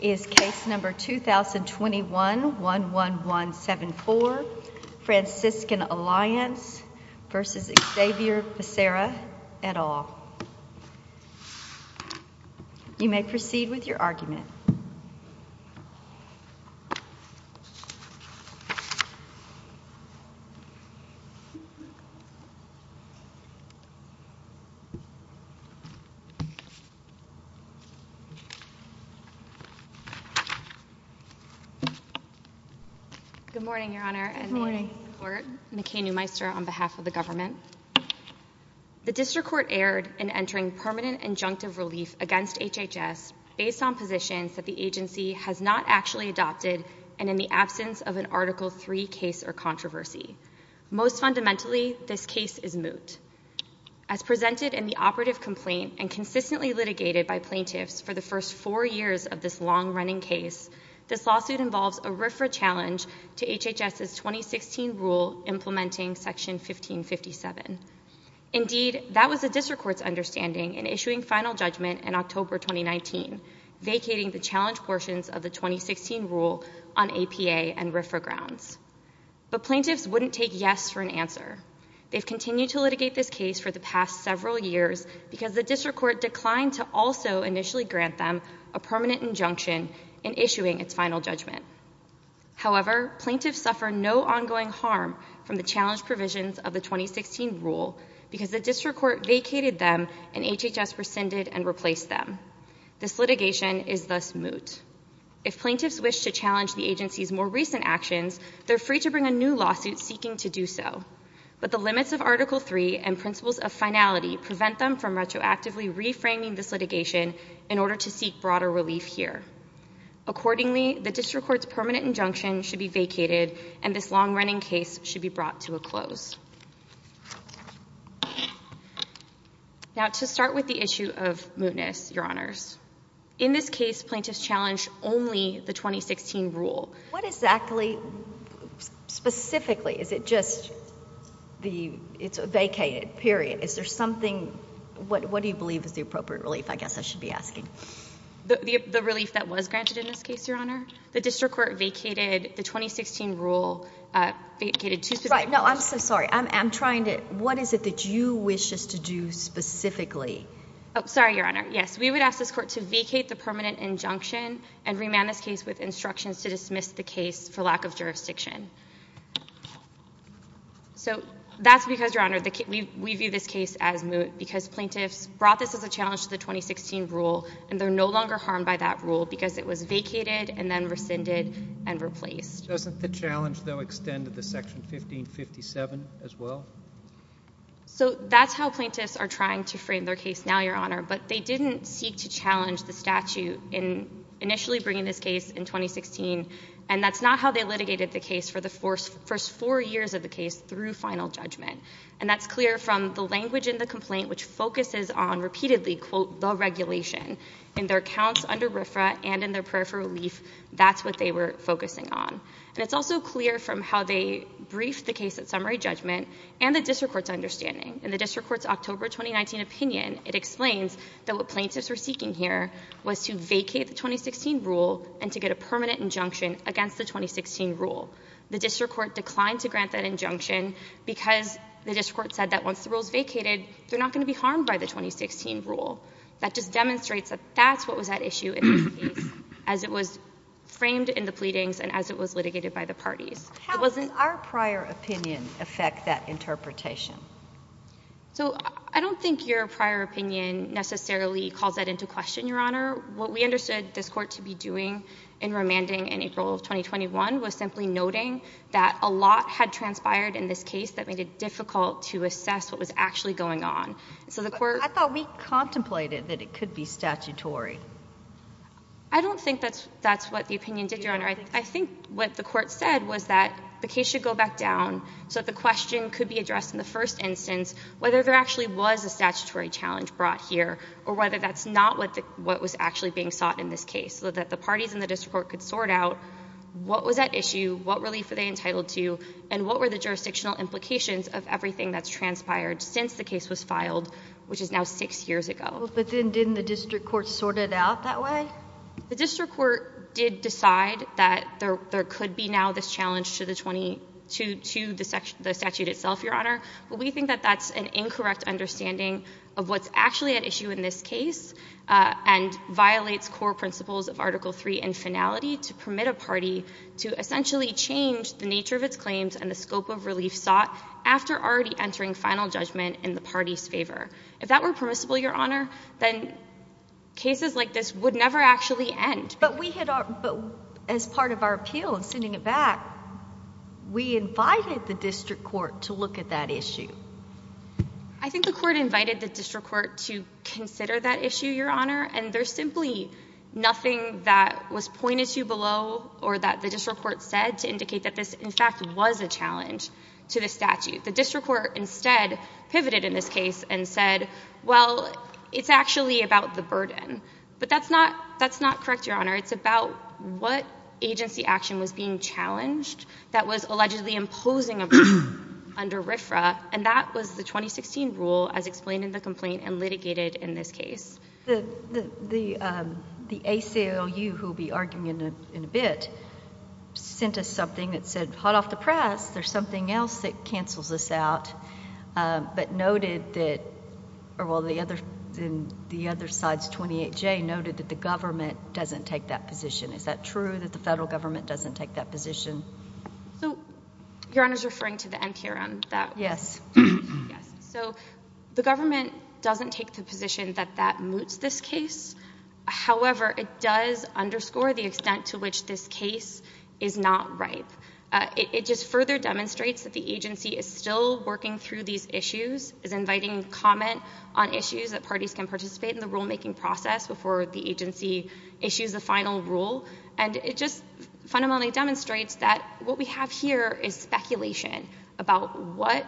is case number 2021-11174, Franciscan Alliance v. Xavier Becerra et al. You may proceed with your argument. Good morning, Your Honor, and the court. McCain Newmeister on behalf of the government. The district court erred in entering permanent injunctive relief against HHS based on positions that the agency has not actually adopted and in the absence of an Article III case or controversy. Most fundamentally, this case is moot. As presented in the operative complaint and consistently litigated by plaintiffs for the first four years of this long-running case, this lawsuit involves a RFRA challenge to HHS's 2016 rule implementing Section 1557. Indeed, that was the district court's understanding in issuing final judgment in October 2019, vacating the challenge portions of the 2016 rule on APA and RFRA grounds. But plaintiffs wouldn't take yes for an answer. They've continued to litigate this case for the past several years because the district court declined to also initially grant them a permanent injunction in issuing its final judgment. However, plaintiffs suffer no ongoing harm from the challenge provisions of the 2016 rule because the district court vacated them and HHS rescinded and replaced them. This litigation is thus moot. If plaintiffs wish to challenge the agency's more recent actions, they're free to bring a new lawsuit seeking to do so. But the limits of Article III and principles of finality prevent them from retroactively reframing this litigation in order to seek broader relief here. Accordingly, the district court's permanent injunction should be vacated, and this long-running case should be brought to a close. Now, to start with the issue of mootness, Your Honors, in this case, plaintiffs challenged only the 2016 rule. What exactly, specifically, is it just the vacated, period? Is there something, what do you believe is the appropriate relief, I guess I should be asking? The relief that was granted in this case, Your Honor. The district court vacated the 2016 rule, vacated two specific rules. Right, no, I'm so sorry. I'm trying to, what is it that you wish us to do specifically? Oh, sorry, Your Honor. Yes, we would ask this court to vacate the permanent injunction and remand this case with instructions to dismiss the case for lack of jurisdiction. So, that's because, Your Honor, we view this case as moot because plaintiffs brought this as a challenge to the 2016 rule, and they're no longer harmed by that rule because it was vacated and then rescinded and replaced. Doesn't the challenge, though, extend to the Section 1557 as well? So that's how plaintiffs are trying to frame their case now, Your Honor, but they didn't seek to challenge the statute in initially bringing this case in 2016, and that's not how they litigated the case for the first four years of the case through final judgment. And that's clear from the language in the complaint, which focuses on, repeatedly, quote, the regulation. In their accounts under RFRA and in their prayer for relief, that's what they were focusing on. And it's also clear from how they briefed the case at summary judgment and the district court's understanding. In the district court's October 2019 opinion, it explains that what plaintiffs were seeking here was to vacate the 2016 rule and to get a permanent injunction against the 2016 rule. The district court declined to grant that injunction because the district court said that once the rule is vacated, they're not going to be harmed by the 2016 rule. That just demonstrates that that's what was at issue in this case, as it was framed in the pleadings and as it was litigated by the parties. How does our prior opinion affect that interpretation? So I don't think your prior opinion necessarily calls that into question, Your Honor. What we understood this court to be doing in remanding in April of 2021 was simply noting that a lot had transpired in this case that made it difficult to assess what was actually going on. But I thought we contemplated that it could be statutory. I don't think that's what the opinion did, Your Honor. I think what the court said was that the case should go back down so that the question could be addressed in the first instance, whether there actually was a statutory challenge brought here, or whether that's not what was actually being sought in this case, so that the parties in the district court could sort out what was at issue, what relief were they entitled to, and what were the jurisdictional implications of everything that's transpired since the case was filed, which is now six years ago. But then didn't the district court sort it out that way? The district court did decide that there could be now this challenge to the statute itself, Your Honor. But we think that that's an incorrect understanding of what's actually at issue in this case, and violates core principles of Article III in finality to permit a party to essentially change the nature of its claims and the scope of relief sought after already entering final judgment in the party's favor. If that were permissible, Your Honor, then cases like this would never actually end. But we had our—but as part of our appeal and sending it back, we invited the district court to look at that issue. I think the court invited the district court to consider that issue, Your Honor. And there's simply nothing that was pointed to below or that the district court said to indicate that this, in fact, was a challenge to the statute. The district court instead pivoted in this case and said, well, it's actually about the burden. But that's not—that's not correct, Your Honor. It's about what agency action was being challenged that was allegedly imposing a burden under RFRA. And that was the 2016 rule as explained in the complaint and litigated in this case. The ACLU, who will be arguing in a bit, sent us something that said, hot off the press, there's something else that cancels this out, but noted that—or, well, the other—the other side's 28J noted that the government doesn't take that position. Is that true, that the federal government doesn't take that position? So, Your Honor's referring to the NPRM, that— Yes. Yes. So, the government doesn't take the position that that moots this case. However, it does underscore the extent to which this case is not ripe. It just further demonstrates that the agency is still working through these issues, is inviting comment on issues that parties can participate in the rulemaking process before the agency issues the final rule. And it just fundamentally demonstrates that what we have here is speculation about what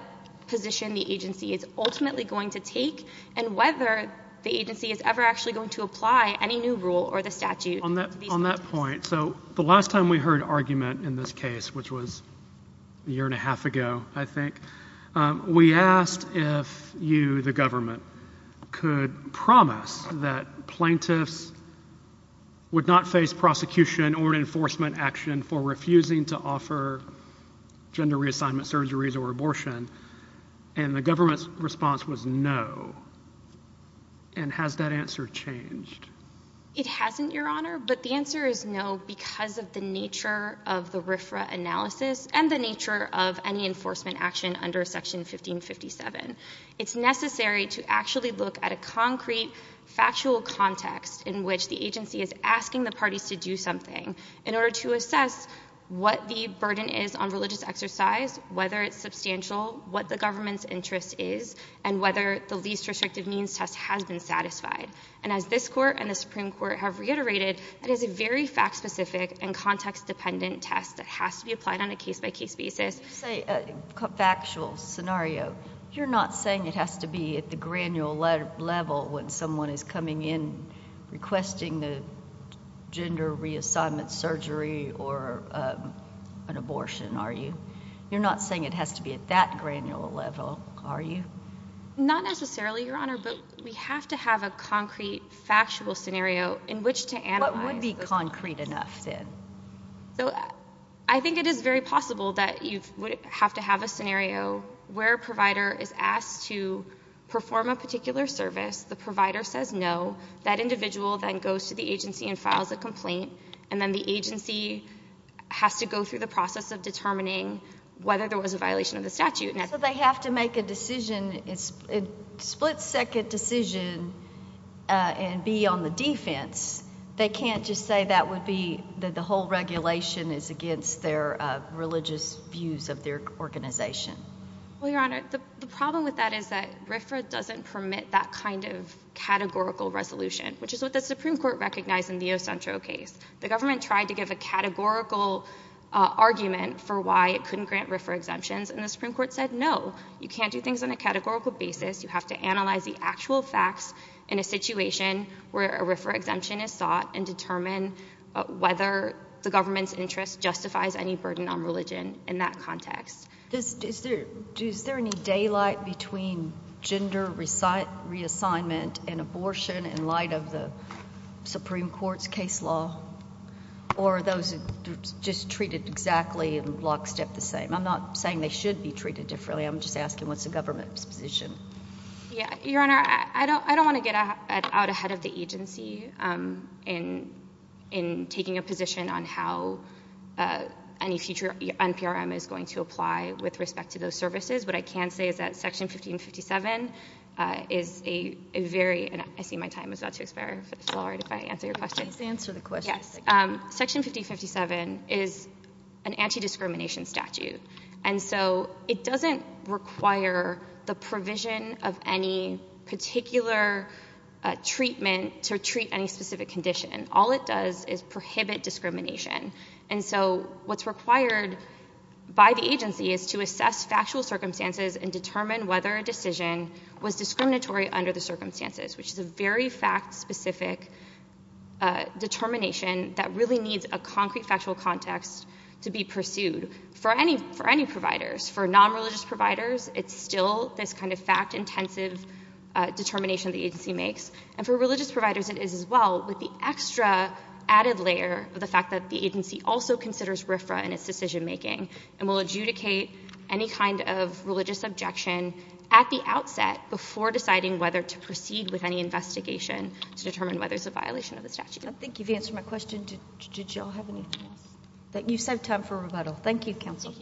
position the agency is ultimately going to take and whether the agency is ever actually going to apply any new rule or the statute. On that point, so the last time we heard argument in this case, which was a year and a half ago, I think, we asked if you, the government, could promise that plaintiffs would not face prosecution or an enforcement action for refusing to offer gender reassignment surgeries or abortion, and the government's response was no. And has that answer changed? It hasn't, Your Honor, but the answer is no because of the nature of the RFRA analysis and the nature of any enforcement action under Section 1557. It's necessary to actually look at a concrete, factual context in which the agency is asking the parties to do something in order to assess what the burden is on religious exercise, whether it's substantial, what the government's interest is, and whether the least restrictive means test has been satisfied. And as this Court and the Supreme Court have reiterated, it is a very fact-specific and context-dependent test that has to be applied on a case-by-case basis. You say factual scenario. You're not saying it has to be at the granule level when someone is coming in requesting the gender reassignment surgery or an abortion, are you? You're not saying it has to be at that granule level, are you? Not necessarily, Your Honor, but we have to have a concrete, factual scenario in which to analyze. What would be concrete enough, then? I think it is very possible that you would have to have a scenario where a provider is to the agency and files a complaint, and then the agency has to go through the process of determining whether there was a violation of the statute. So they have to make a decision, a split-second decision, and be on the defense. They can't just say that would be that the whole regulation is against their religious views of their organization. Well, Your Honor, the problem with that is that RFRA doesn't permit that kind of categorical resolution, which is what the Supreme Court recognized in the Ocentro case. The government tried to give a categorical argument for why it couldn't grant RFRA exemptions, and the Supreme Court said, no, you can't do things on a categorical basis. You have to analyze the actual facts in a situation where a RFRA exemption is sought and determine whether the government's interest justifies any burden on religion in that context. Is there any daylight between gender reassignment and abortion in light of the Supreme Court's case law, or are those just treated exactly and lockstep the same? I'm not saying they should be treated differently. I'm just asking what's the government's position. Your Honor, I don't want to get out ahead of the agency in taking a position on how any future NPRM is going to apply with respect to those services. What I can say is that Section 1557 is a very—and I see my time is about to expire. If it's all right if I answer your question. Please answer the question. Section 1557 is an anti-discrimination statute, and so it doesn't require the provision of any particular treatment to treat any specific condition. All it does is prohibit discrimination. And so what's required by the agency is to assess factual circumstances and determine whether a decision was discriminatory under the circumstances, which is a very fact-specific determination that really needs a concrete factual context to be pursued for any providers. For non-religious providers, it's still this kind of fact-intensive determination the agency makes. And for religious providers, it is as well, with the extra added layer of the fact that the agency also considers RFRA in its decision-making and will adjudicate any kind of religious objection at the outset before deciding whether to proceed with any investigation to determine whether it's a violation of the statute. I think you've answered my question. Did you all have anything else? You still have time for rebuttal. Thank you, counsel.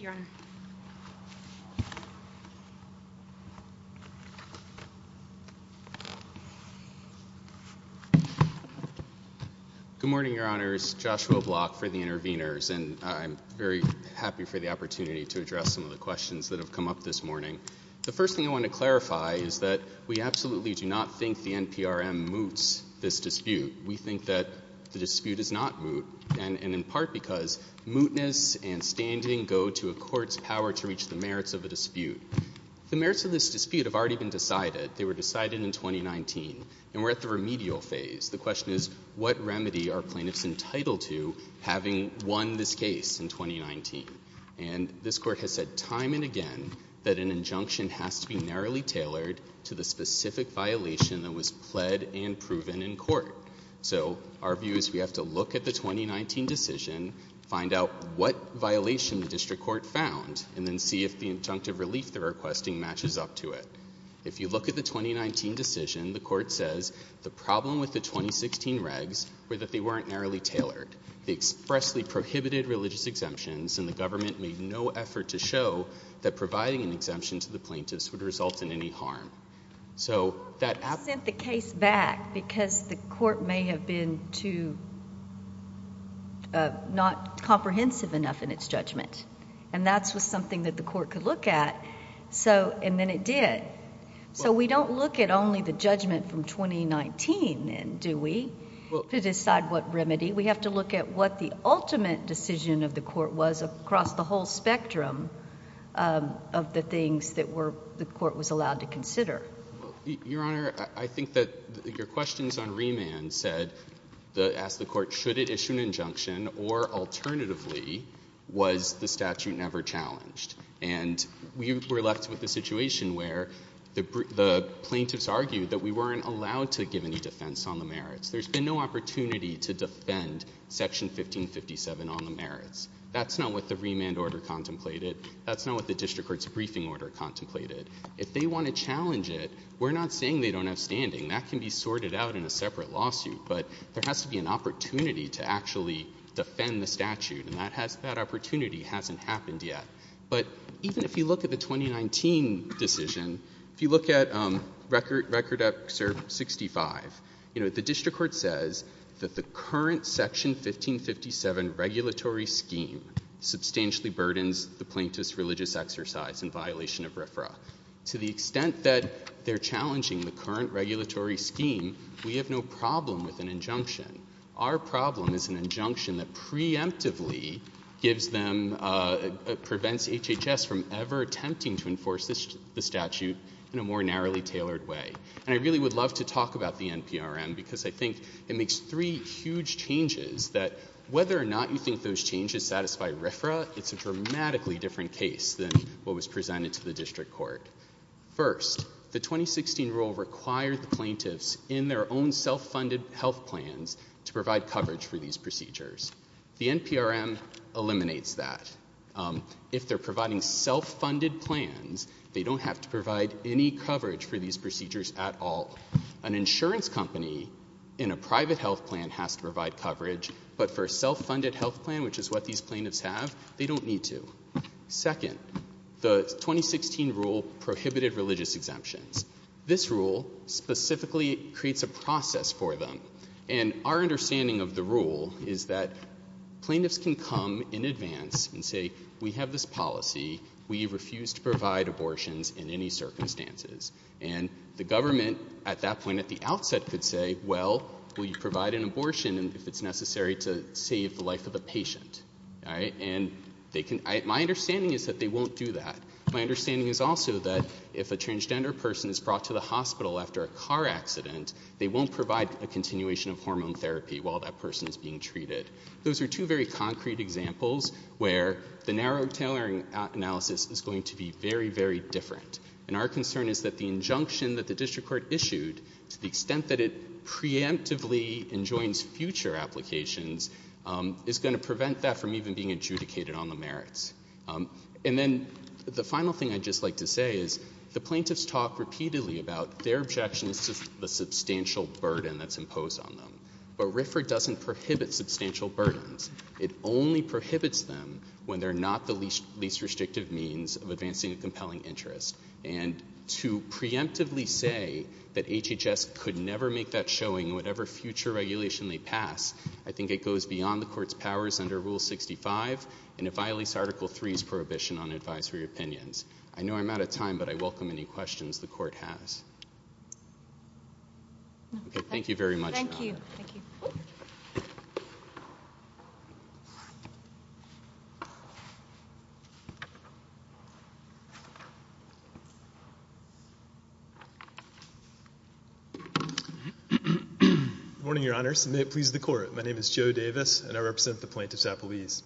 Good morning, Your Honors. Joshua Block for the interveners, and I'm very happy for the opportunity to address some of the questions that have come up this morning. The first thing I want to clarify is that we absolutely do not think the NPRM moots this dispute. We think that the dispute is not moot, and in part because mootness and standing go to a court's power to reach the merits of a dispute. The merits of this dispute have already been decided. They were decided in 2019, and we're at the remedial phase. The question is, what remedy are plaintiffs entitled to having won this case in 2019? This court has said time and again that an injunction has to be narrowly tailored to the specific violation that was pled and proven in court. Our view is we have to look at the 2019 decision, find out what violation the district court found, and then see if the injunctive relief they're requesting matches up to it. If you look at the 2019 decision, the court says the problem with the 2016 regs were that they weren't narrowly tailored. They expressly prohibited religious exemptions, and the government made no effort to show that providing an exemption to the plaintiffs would result in any harm. So that— —sent the case back because the court may have been too—not comprehensive enough in its judgment, and that's something that the court could look at, and then it did. So we don't look at only the judgment from 2019, then, do we, to decide what remedy? We have to look at what the ultimate decision of the court was across the whole spectrum of the things that the court was allowed to consider. Your Honor, I think that your questions on remand said—asked the court, should it issue an injunction, or alternatively, was the statute never challenged? And we were left with a situation where the plaintiffs argued that we weren't allowed to give any defense on the merits. There's been no opportunity to defend Section 1557 on the merits. That's not what the remand order contemplated. That's not what the district court's briefing order contemplated. If they want to challenge it, we're not saying they don't have standing. That can be sorted out in a separate lawsuit, but there has to be an opportunity to actually defend the statute, and that has—that opportunity hasn't happened yet. But even if you look at the 2019 decision, if you look at Record Excerpt 65, you know, the district court says that the current Section 1557 regulatory scheme substantially burdens the plaintiff's religious exercise in violation of RFRA. To the extent that they're challenging the current regulatory scheme, we have no problem with an injunction. Our problem is an injunction that preemptively gives them—prevents HHS from ever attempting to enforce the statute in a more narrowly tailored way. And I really would love to talk about the NPRM, because I think it makes three huge changes that, whether or not you think those changes satisfy RFRA, it's a dramatically different case than what was presented to the district court. First, the 2016 rule required the plaintiffs in their own self-funded health plans to provide coverage for these procedures. The NPRM eliminates that. If they're providing self-funded plans, they don't have to provide any coverage for these procedures at all. An insurance company in a private health plan has to provide coverage, but for a self-funded health plan, which is what these plaintiffs have, they don't need to. Second, the 2016 rule prohibited religious exemptions. This rule specifically creates a process for them. And our understanding of the rule is that plaintiffs can come in advance and say, we have this policy. We refuse to provide abortions in any circumstances. And the government, at that point, at the outset, could say, well, will you provide And my understanding is that they won't do that. My understanding is also that if a transgender person is brought to the hospital after a car accident, they won't provide a continuation of hormone therapy while that person is being treated. Those are two very concrete examples where the narrow tailoring analysis is going to be very, very different. And our concern is that the injunction that the district court issued, to the extent that preemptively enjoins future applications, is going to prevent that from even being adjudicated on the merits. And then the final thing I'd just like to say is the plaintiffs talk repeatedly about their objections to the substantial burden that's imposed on them. But RFRA doesn't prohibit substantial burdens. It only prohibits them when they're not the least restrictive means of advancing a compelling interest. And to preemptively say that HHS could never make that showing in whatever future regulation they pass, I think it goes beyond the court's powers under Rule 65, and it violates Article 3's prohibition on advisory opinions. I know I'm out of time, but I welcome any questions the court has. Thank you very much. Thank you. Good morning, Your Honors, and may it please the court. My name is Joe Davis, and I represent the plaintiffs at police.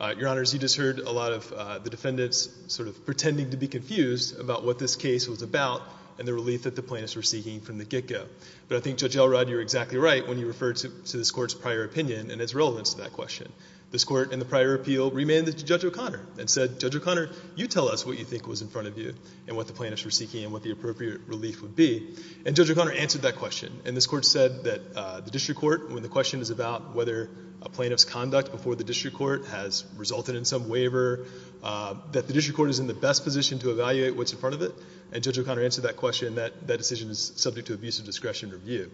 Your Honors, you just heard a lot of the defendants sort of pretending to be confused about what this case was about and the relief that the plaintiffs were seeking from the get-go. But I think Judge Elrod, you were exactly right when you referred to this court's prior opinion and its relevance to that question. This court, in the prior appeal, remanded to Judge O'Connor and said, Judge O'Connor, you tell us what you think was in front of you. And what the plaintiffs were seeking, and what the appropriate relief would be. And Judge O'Connor answered that question. And this court said that the district court, when the question is about whether a plaintiff's conduct before the district court has resulted in some waiver, that the district court is in the best position to evaluate what's in front of it. And Judge O'Connor answered that question. That decision is subject to abuse of discretion review.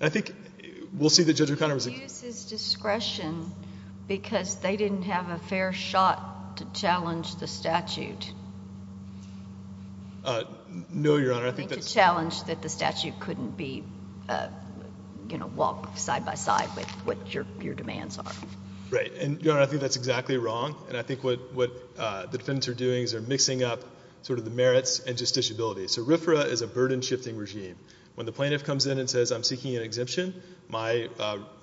I think we'll see that Judge O'Connor was— Abuse of discretion because they didn't have a fair shot to challenge the statute. Uh, no, Your Honor. I think that's— To challenge that the statute couldn't be, you know, walk side by side with what your demands are. Right. And, Your Honor, I think that's exactly wrong. And I think what the defendants are doing is they're mixing up sort of the merits and justiciability. So RFRA is a burden-shifting regime. When the plaintiff comes in and says, I'm seeking an exemption, my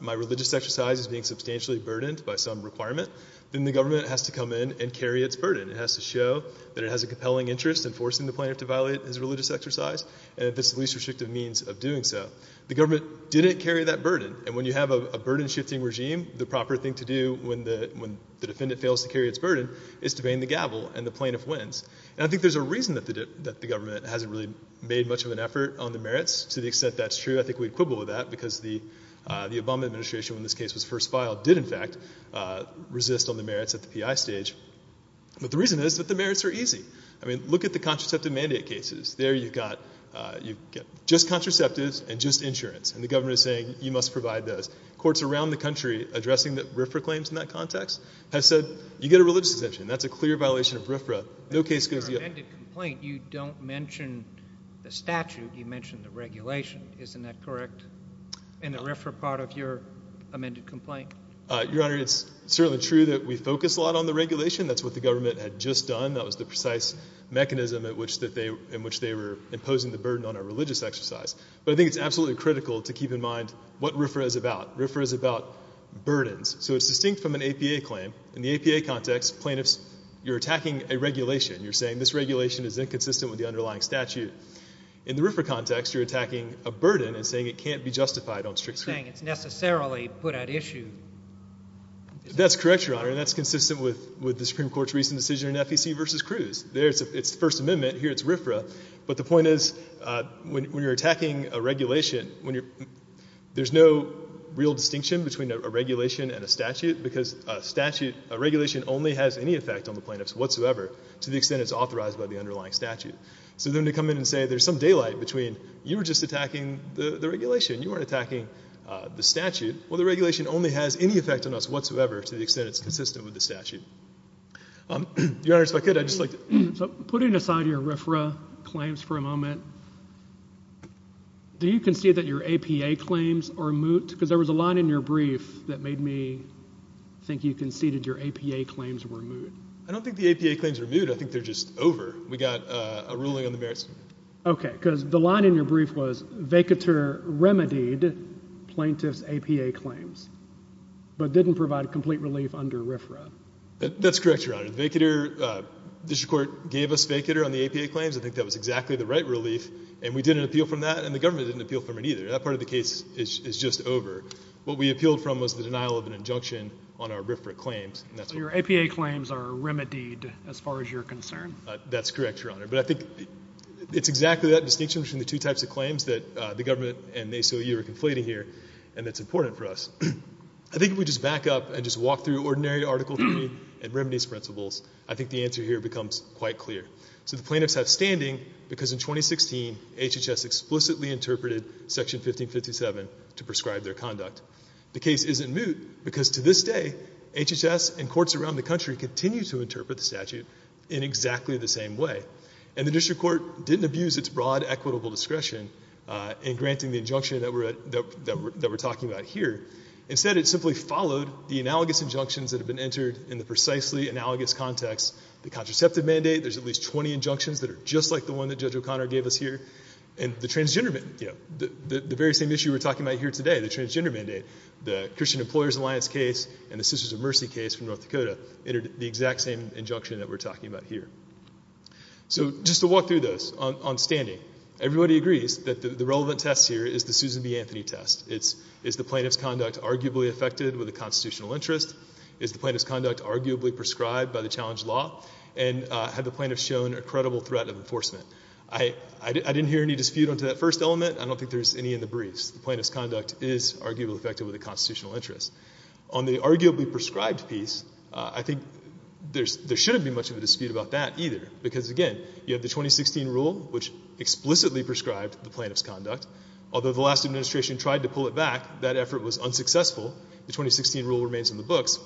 religious exercise is being substantially burdened by some requirement, then the government has to come in and carry its burden. It has to show that it has a compelling interest in forcing the plaintiff to violate his religious exercise and if it's the least restrictive means of doing so. The government didn't carry that burden. And when you have a burden-shifting regime, the proper thing to do when the defendant fails to carry its burden is to bang the gavel and the plaintiff wins. And I think there's a reason that the government hasn't really made much of an effort on the To the extent that's true, I think we'd quibble with that because the Obama administration, when this case was first filed, did, in fact, resist on the merits at the PI stage. But the reason is that the merits are easy. I mean, look at the contraceptive mandate cases. There you've got just contraceptives and just insurance. And the government is saying, you must provide those. Courts around the country addressing the RFRA claims in that context have said, you get a religious exemption. That's a clear violation of RFRA. No case goes yet. In your amended complaint, you don't mention the statute. You mention the regulation. Isn't that correct in the RFRA part of your amended complaint? Your Honor, it's certainly true that we focus a lot on the regulation. That's what the government had just done. That was the precise mechanism in which they were imposing the burden on a religious exercise. But I think it's absolutely critical to keep in mind what RFRA is about. RFRA is about burdens. So it's distinct from an APA claim. In the APA context, plaintiffs, you're attacking a regulation. You're saying this regulation is inconsistent with the underlying statute. In the RFRA context, you're attacking a burden and saying it can't be justified on strict That's correct, Your Honor. And that's consistent with the Supreme Court's recent decision in FEC versus Cruz. There, it's the First Amendment. Here, it's RFRA. But the point is, when you're attacking a regulation, there's no real distinction between a regulation and a statute because a statute, a regulation only has any effect on the plaintiffs whatsoever to the extent it's authorized by the underlying statute. So then to come in and say there's some daylight between you were just attacking the regulation. You weren't attacking the statute. Well, the regulation only has any effect on us whatsoever to the extent it's consistent with the statute. Your Honor, if I could, I'd just like to... So putting aside your RFRA claims for a moment, do you concede that your APA claims are moot? Because there was a line in your brief that made me think you conceded your APA claims were moot. I don't think the APA claims are moot. I think they're just over. We got a ruling on the merits. OK. Because the line in your brief was Vacatur remedied plaintiff's APA claims, but didn't provide complete relief under RFRA. That's correct, Your Honor. District Court gave us Vacatur on the APA claims. I think that was exactly the right relief. And we didn't appeal from that. And the government didn't appeal from it either. That part of the case is just over. What we appealed from was the denial of an injunction on our RFRA claims. That's correct, Your Honor. But I think it's exactly that distinction between the two types of claims that the government and the ACLU are conflating here and that's important for us. I think if we just back up and just walk through ordinary article 3 and remedies principles, I think the answer here becomes quite clear. So the plaintiffs have standing because in 2016, HHS explicitly interpreted Section 1557 to prescribe their conduct. The case isn't moot because to this day, HHS and courts around the country continue to interpret the statute in exactly the same way. And the district court didn't abuse its broad equitable discretion in granting the injunction that we're talking about here. Instead, it simply followed the analogous injunctions that have been entered in the precisely analogous context. The contraceptive mandate, there's at least 20 injunctions that are just like the one that Judge O'Connor gave us here. And the transgender, the very same issue we're talking about here today, the transgender mandate, the Christian Employers Alliance case and the Sisters of Mercy case from North Dakota, entered the exact same injunction that we're talking about here. So just to walk through this on standing. Everybody agrees that the relevant test here is the Susan B. Anthony test. It's, is the plaintiff's conduct arguably affected with a constitutional interest? Is the plaintiff's conduct arguably prescribed by the challenged law? And have the plaintiffs shown a credible threat of enforcement? I didn't hear any dispute onto that first element. I don't think there's any in the briefs. The plaintiff's conduct is arguably affected with a constitutional interest. On the arguably prescribed piece, I think there shouldn't be much of a dispute about that either. Because again, you have the 2016 rule, which explicitly prescribed the plaintiff's conduct. Although the last administration tried to pull it back, that effort was unsuccessful. The 2016 rule remains in the books.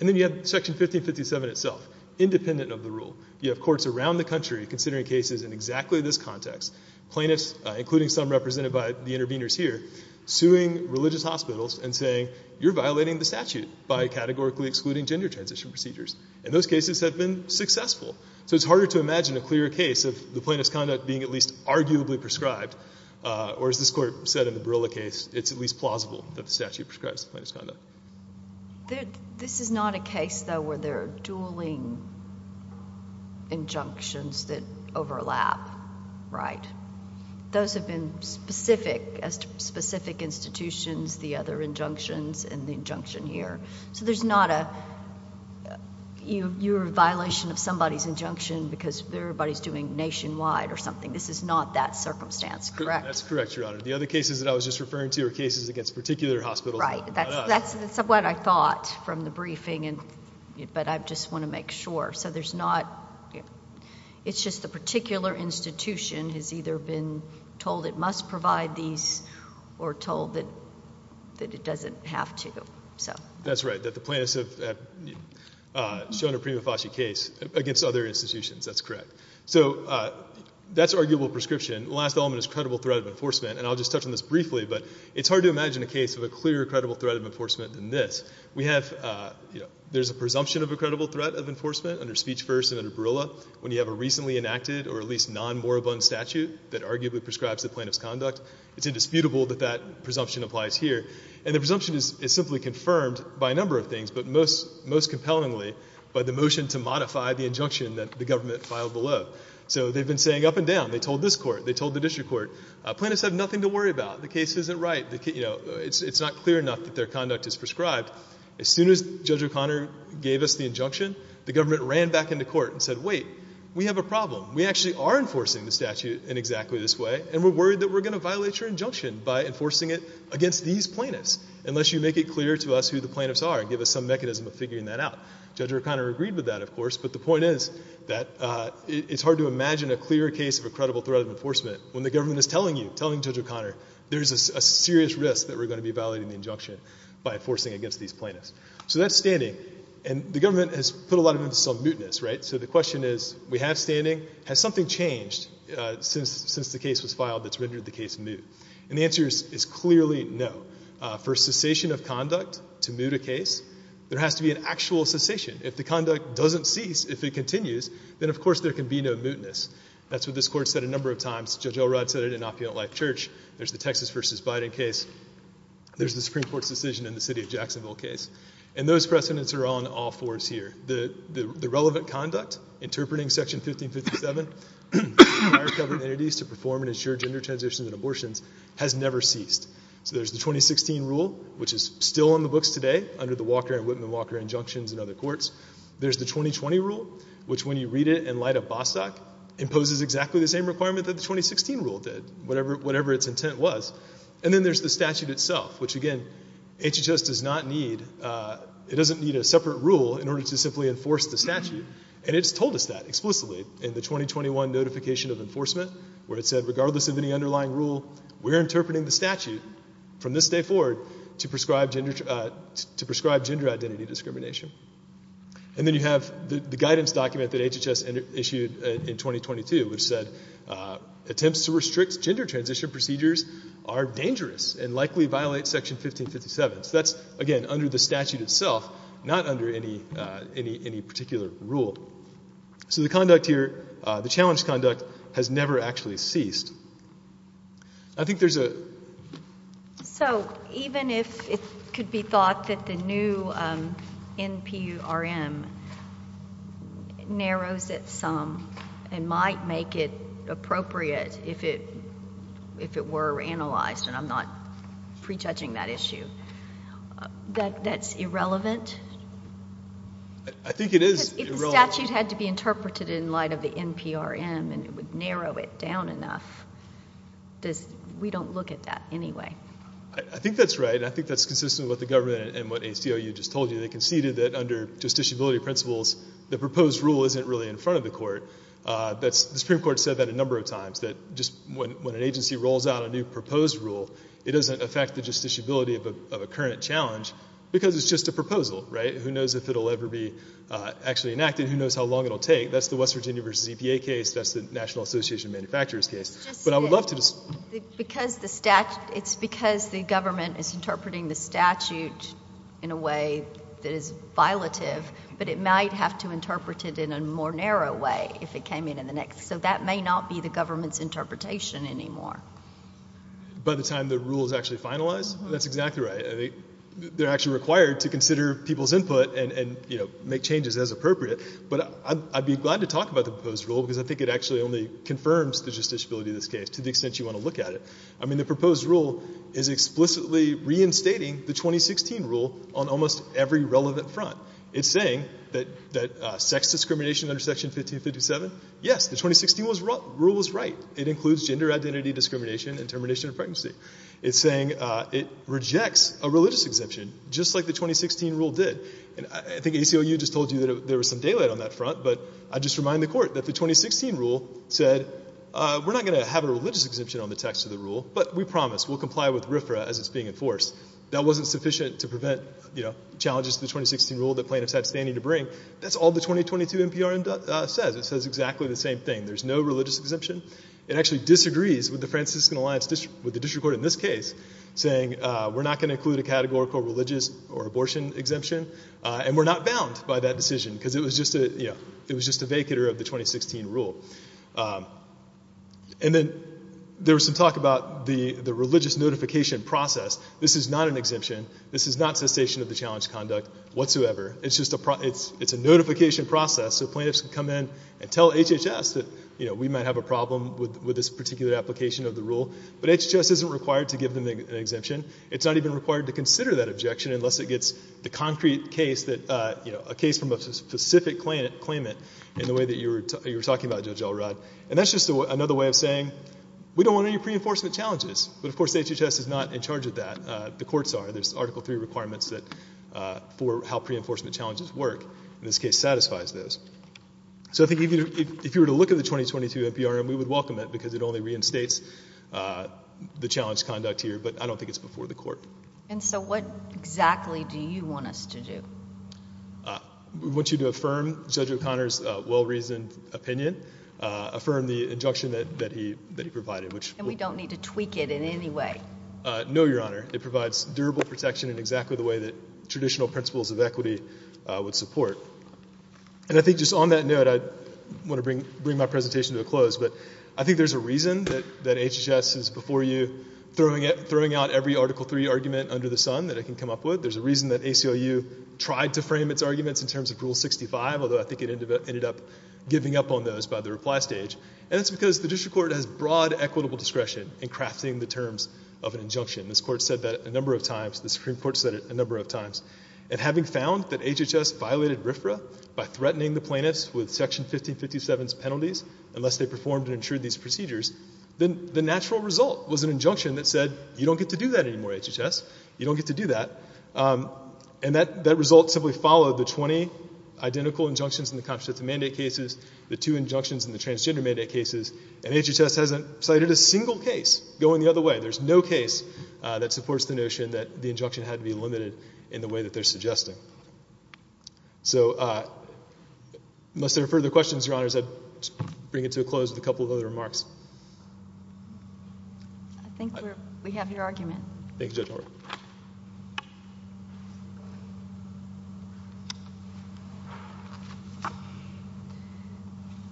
And then you have Section 1557 itself, independent of the rule. You have courts around the country considering cases in exactly this context. Plaintiffs, including some represented by the interveners here, suing religious hospitals and saying, you're violating the statute by categorically excluding gender transition procedures. And those cases have been successful. So it's harder to imagine a clearer case of the plaintiff's conduct being at least arguably prescribed, or as this court said in the Barilla case, it's at least plausible that the statute prescribes the plaintiff's conduct. This is not a case, though, where there are dueling injunctions that overlap, right? Those have been specific as to specific institutions, the other injunctions, and the injunction here. So there's not a, you're a violation of somebody's injunction because everybody's doing nationwide or something. This is not that circumstance, correct? That's correct, Your Honor. The other cases that I was just referring to are cases against particular hospitals. Right. That's what I thought from the briefing, but I just want to make sure. So there's not, it's just the particular institution has either been told it must provide these or told that it doesn't have to. That's right, that the plaintiffs have shown a prima facie case against other institutions. That's correct. So that's arguable prescription. Last element is credible threat of enforcement, and I'll just touch on this briefly, but it's hard to imagine a case with a clearer credible threat of enforcement than this. There's a presumption of a credible threat of enforcement under Speech First and under Barilla when you have a recently enacted or at least non-moribund statute that arguably prescribes the plaintiff's conduct. It's indisputable that that presumption applies here. And the presumption is simply confirmed by a number of things, but most compellingly by the motion to modify the injunction that the government filed below. So they've been saying up and down. They told this court. They told the district court. Plaintiffs have nothing to worry about. The case isn't right. It's not clear enough that their conduct is prescribed. As soon as Judge O'Connor gave us the injunction, the government ran back into court and said, wait, we have a problem. We actually are enforcing the statute in exactly this way, and we're worried that we're going to violate your injunction by enforcing it against these plaintiffs unless you make it clear to us who the plaintiffs are and give us some mechanism of figuring that out. Judge O'Connor agreed with that, of course. But the point is that it's hard to imagine a clearer case of a credible threat of enforcement when the government is telling you, telling Judge O'Connor, there's a serious risk that we're going to be violating the injunction by enforcing against these plaintiffs. So that's standing. And the government has put a lot of it into some mootness, right? So the question is, we have standing. Has something changed since the case was filed that's rendered the case moot? And the answer is clearly no. For cessation of conduct to moot a case, there has to be an actual cessation. If the conduct doesn't cease, if it continues, then, of course, there can be no mootness. That's what this court said a number of times. Judge Elrod said it in Opulent Life Church. There's the Texas versus Biden case. There's the Supreme Court's decision in the city of Jacksonville case. And those precedents are on all fours here. The relevant conduct, interpreting section 1557, requires government entities to perform and ensure gender transitions and abortions, has never ceased. So there's the 2016 rule, which is still on the books today, under the Walker and Whitman-Walker injunctions and other courts. There's the 2020 rule, which, when you read it in light of Bostock, imposes exactly the same requirement that the 2016 rule did, whatever its intent was. And then there's the statute itself, which, again, HHS does not need. It doesn't need a separate rule in order to simply enforce the statute. And it's told us that explicitly in the 2021 Notification of Enforcement, where it said, regardless of any underlying rule, we're interpreting the statute from this day forward to prescribe gender identity discrimination. And then you have the guidance document that HHS issued in 2022, which said, attempts to restrict gender transition procedures are dangerous and likely violate section 1557. So that's, again, under the statute itself, not under any particular rule. So the conduct here, the challenge conduct, has never actually ceased. So even if it could be thought that the new NPRM narrows it some and might make it appropriate if it were analyzed, and I'm not prejudging that issue, that that's irrelevant? I think it is. If the statute had to be interpreted in light of the NPRM and it would narrow it down enough, we don't look at that anyway. I think that's right. I think that's consistent with the government and what ACLU just told you. They conceded that under justiciability principles, the proposed rule isn't really in front of the court. The Supreme Court said that a number of times, that just when an agency rolls out a new proposed rule, it doesn't affect the justiciability of a current challenge, because it's just a proposal, right? Who knows if it'll ever be actually enacted? Who knows how long it'll take? That's the West Virginia v. EPA case. That's the National Association of Manufacturers case. It's just that it's because the government is interpreting the statute in a way that is violative, but it might have to interpret it in a more narrow way if it came in the next. So that may not be the government's interpretation anymore. By the time the rule is actually finalized? That's exactly right. They're actually required to consider people's input and make changes as appropriate. But I'd be glad to talk about the proposed rule, because I think it actually only confirms the justiciability of this case, to the extent you want to look at it. I mean, the proposed rule is explicitly reinstating the 2016 rule on almost every relevant front. It's saying that sex discrimination under Section 1557, yes, the 2016 rule was right. It includes gender identity discrimination and termination of pregnancy. It's saying it rejects a religious exemption, just like the 2016 rule did. And I think ACLU just told you that there was some daylight on that front, but I just remind the Court that the 2016 rule said, we're not going to have a religious exemption on the text of the rule, but we promise we'll comply with RFRA as it's being enforced. That wasn't sufficient to prevent challenges to the 2016 rule that plaintiffs had standing to bring. That's all the 2022 NPRM says. It says exactly the same thing. There's no religious exemption. It actually disagrees with the Franciscan Alliance, with the district court in this case, saying we're not going to include a categorical religious or abortion exemption, and we're not bound by that decision, because it was just a, you know, it was just a vacater of the 2016 rule. And then there was some talk about the religious notification process. This is not an exemption. This is not cessation of the challenge conduct whatsoever. It's just a, it's a notification process. So plaintiffs can come in and tell HHS that, you know, we might have a problem with this particular application of the rule, but HHS isn't required to give them an exemption. It's not even required to consider that objection, unless it gets the concrete case that, you know, a case from a specific claimant in the way that you were talking about, Judge Elrod. And that's just another way of saying, we don't want any pre-enforcement challenges. But of course, HHS is not in charge of that. The courts are. There's Article III requirements that, for how pre-enforcement challenges work. In this case, satisfies those. So I think even if you were to look at the 2022 FBRM, we would welcome it because it only reinstates the challenge conduct here. But I don't think it's before the court. And so what exactly do you want us to do? We want you to affirm Judge O'Connor's well-reasoned opinion, affirm the injunction that he provided, which... And we don't need to tweak it in any way. No, Your Honor. It provides durable protection in exactly the way that And I think just on that note, I want to bring my presentation to a close. But I think there's a reason that HHS is, before you, throwing out every Article III argument under the sun that it can come up with. There's a reason that ACLU tried to frame its arguments in terms of Rule 65, although I think it ended up giving up on those by the reply stage. And that's because the district court has broad equitable discretion in crafting the terms of an injunction. This court said that a number of times. The Supreme Court said it a number of times. And having found that HHS violated RFRA by threatening the plaintiffs with Section 1557's penalties unless they performed and ensured these procedures, then the natural result was an injunction that said, you don't get to do that anymore, HHS. You don't get to do that. And that result simply followed the 20 identical injunctions in the contraceptive mandate cases, the two injunctions in the transgender mandate cases. And HHS hasn't cited a single case going the other way. There's no case that supports the notion that the injunction had to be limited in the way that they're suggesting. So, unless there are further questions, Your Honors, I'd bring it to a close with a couple of other remarks. I think we have your argument. Thank you, Judge Norbert.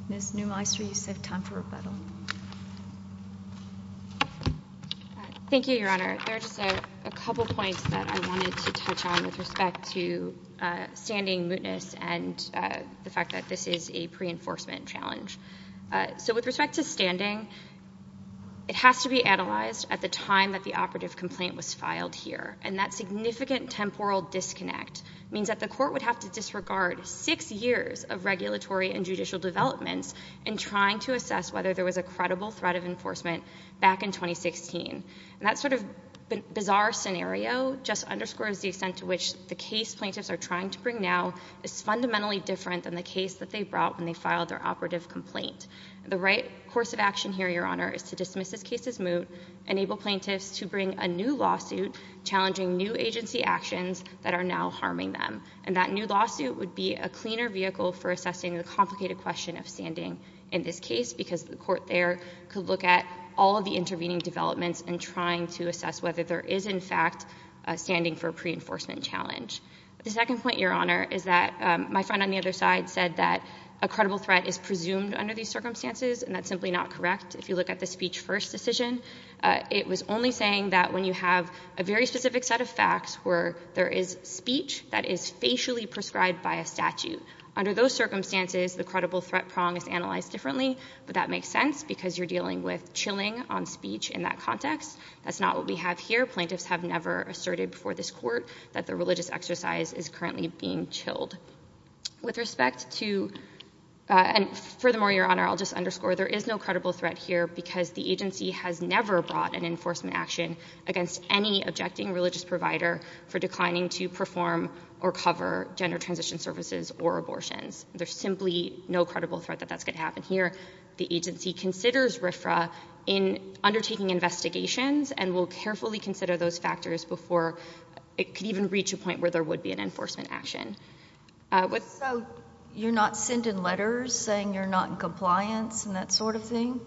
Ms. Neumeister, you said time for rebuttal. Thank you, Your Honor. There are just a couple points that I wanted to touch on with respect to standing mootness and the fact that this is a pre-enforcement challenge. So, with respect to standing, it has to be analyzed at the time that the operative complaint was filed here. And that significant temporal disconnect means that the court would have to disregard six years of regulatory and judicial developments in trying to assess whether there was a credible threat of enforcement back in 2016. And that sort of bizarre scenario just underscores the extent to which the case plaintiffs are trying to bring now is fundamentally different than the case that they brought when they filed their operative complaint. The right course of action here, Your Honor, is to dismiss this case as moot, enable plaintiffs to bring a new lawsuit challenging new agency actions that are now harming them. And that new lawsuit would be a cleaner vehicle for assessing the complicated question of standing in this case because the court there could look at all of the intervening developments and trying to assess whether there is, in fact, standing for a pre-enforcement challenge. The second point, Your Honor, is that my friend on the other side said that a credible threat is presumed under these circumstances and that's simply not correct. If you look at the speech first decision, it was only saying that when you have a very specific set of facts where there is speech that is facially prescribed by a statute. Under those circumstances, the credible threat prong is analyzed differently. But that makes sense because you're dealing with chilling on speech in that context. That's not what we have here. Plaintiffs have never asserted before this court that the religious exercise is currently being chilled. With respect to... And furthermore, Your Honor, I'll just underscore there is no credible threat here because the agency has never brought an enforcement action against any objecting religious provider for declining to perform or cover gender transition services or abortions. There's simply no credible threat that that's going to happen here. The agency considers RFRA in undertaking investigations and will carefully consider those factors before it could even reach a point where there would be an enforcement action. So you're not sending letters saying you're not in compliance and that sort of thing?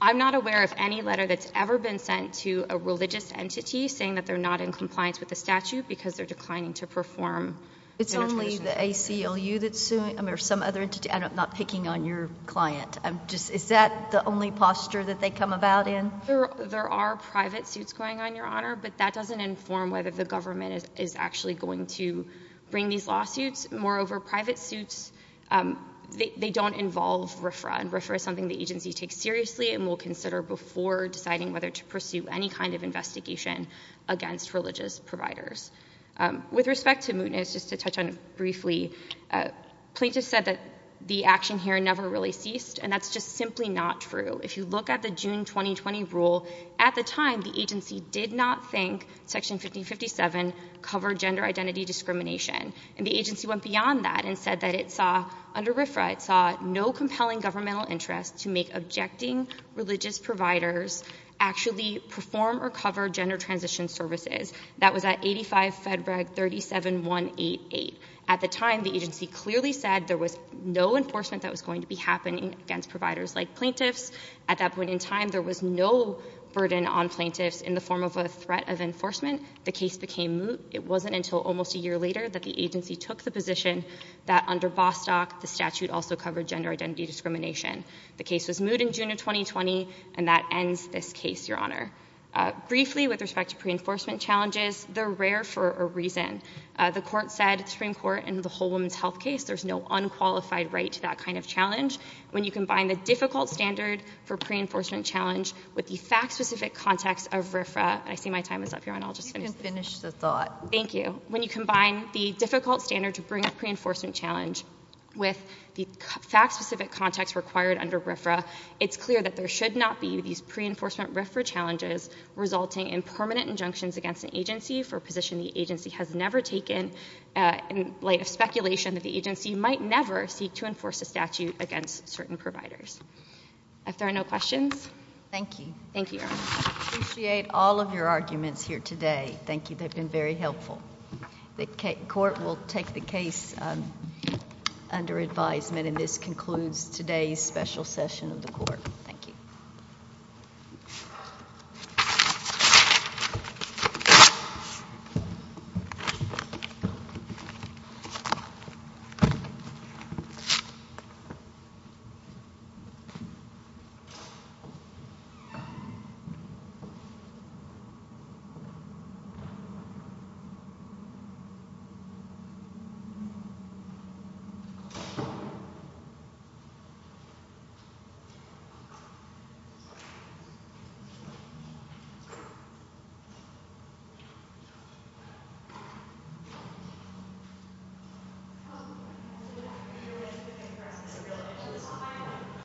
I'm not aware of any letter that's ever been sent to a religious entity saying that they're not in compliance with the statute because they're declining to perform... It's only the ACLU that's suing or some other entity. I'm not picking on your client. Is that the only posture that they come about in? There are private suits going on, Your Honor, but that doesn't inform whether the government is actually going to bring these lawsuits. Moreover, private suits, they don't involve RFRA. And RFRA is something the agency takes seriously and will consider before deciding whether to pursue any kind of investigation against religious providers. With respect to mootness, just to touch on it briefly, Plaintiff said that the action here never really ceased, and that's just simply not true. If you look at the June 2020 rule, at the time, the agency did not think Section 5057 covered gender identity discrimination. And the agency went beyond that and said that it saw, under RFRA, it saw no compelling governmental interest to make objecting religious providers actually perform or cover gender transition services. That was at 85 FEDRAG 37188. At the time, the agency clearly said there was no enforcement that was going to be happening against providers like plaintiffs. At that point in time, there was no burden on plaintiffs in the form of a threat of enforcement. The case became moot. It wasn't until almost a year later that the agency took the position that under Bostock, the statute also covered gender identity discrimination. The case was moot in June of 2020, and that ends this case, Your Honor. Briefly, with respect to pre-enforcement challenges, they're rare for a reason. The Court said, the Supreme Court, and the whole women's health case, there's no unqualified right to that kind of challenge. When you combine the difficult standard for pre-enforcement challenge with the fact-specific context of RFRA, and I see my time is up, Your Honor, I'll just finish. You can finish the thought. Thank you. When you combine the difficult standard to bring a pre-enforcement challenge with the fact-specific context required under RFRA, it's clear that there should not be these pre-enforcement RFRA challenges resulting in permanent injunctions against an agency for a position the agency has never taken in light of speculation that the agency might never seek to enforce a statute against certain providers. If there are no questions. Thank you. Thank you, Your Honor. I appreciate all of your arguments here today. Thank you. They've been very helpful. The Court will take the case under advisement, and this concludes today's special session of the Court. Thank you. Thank you.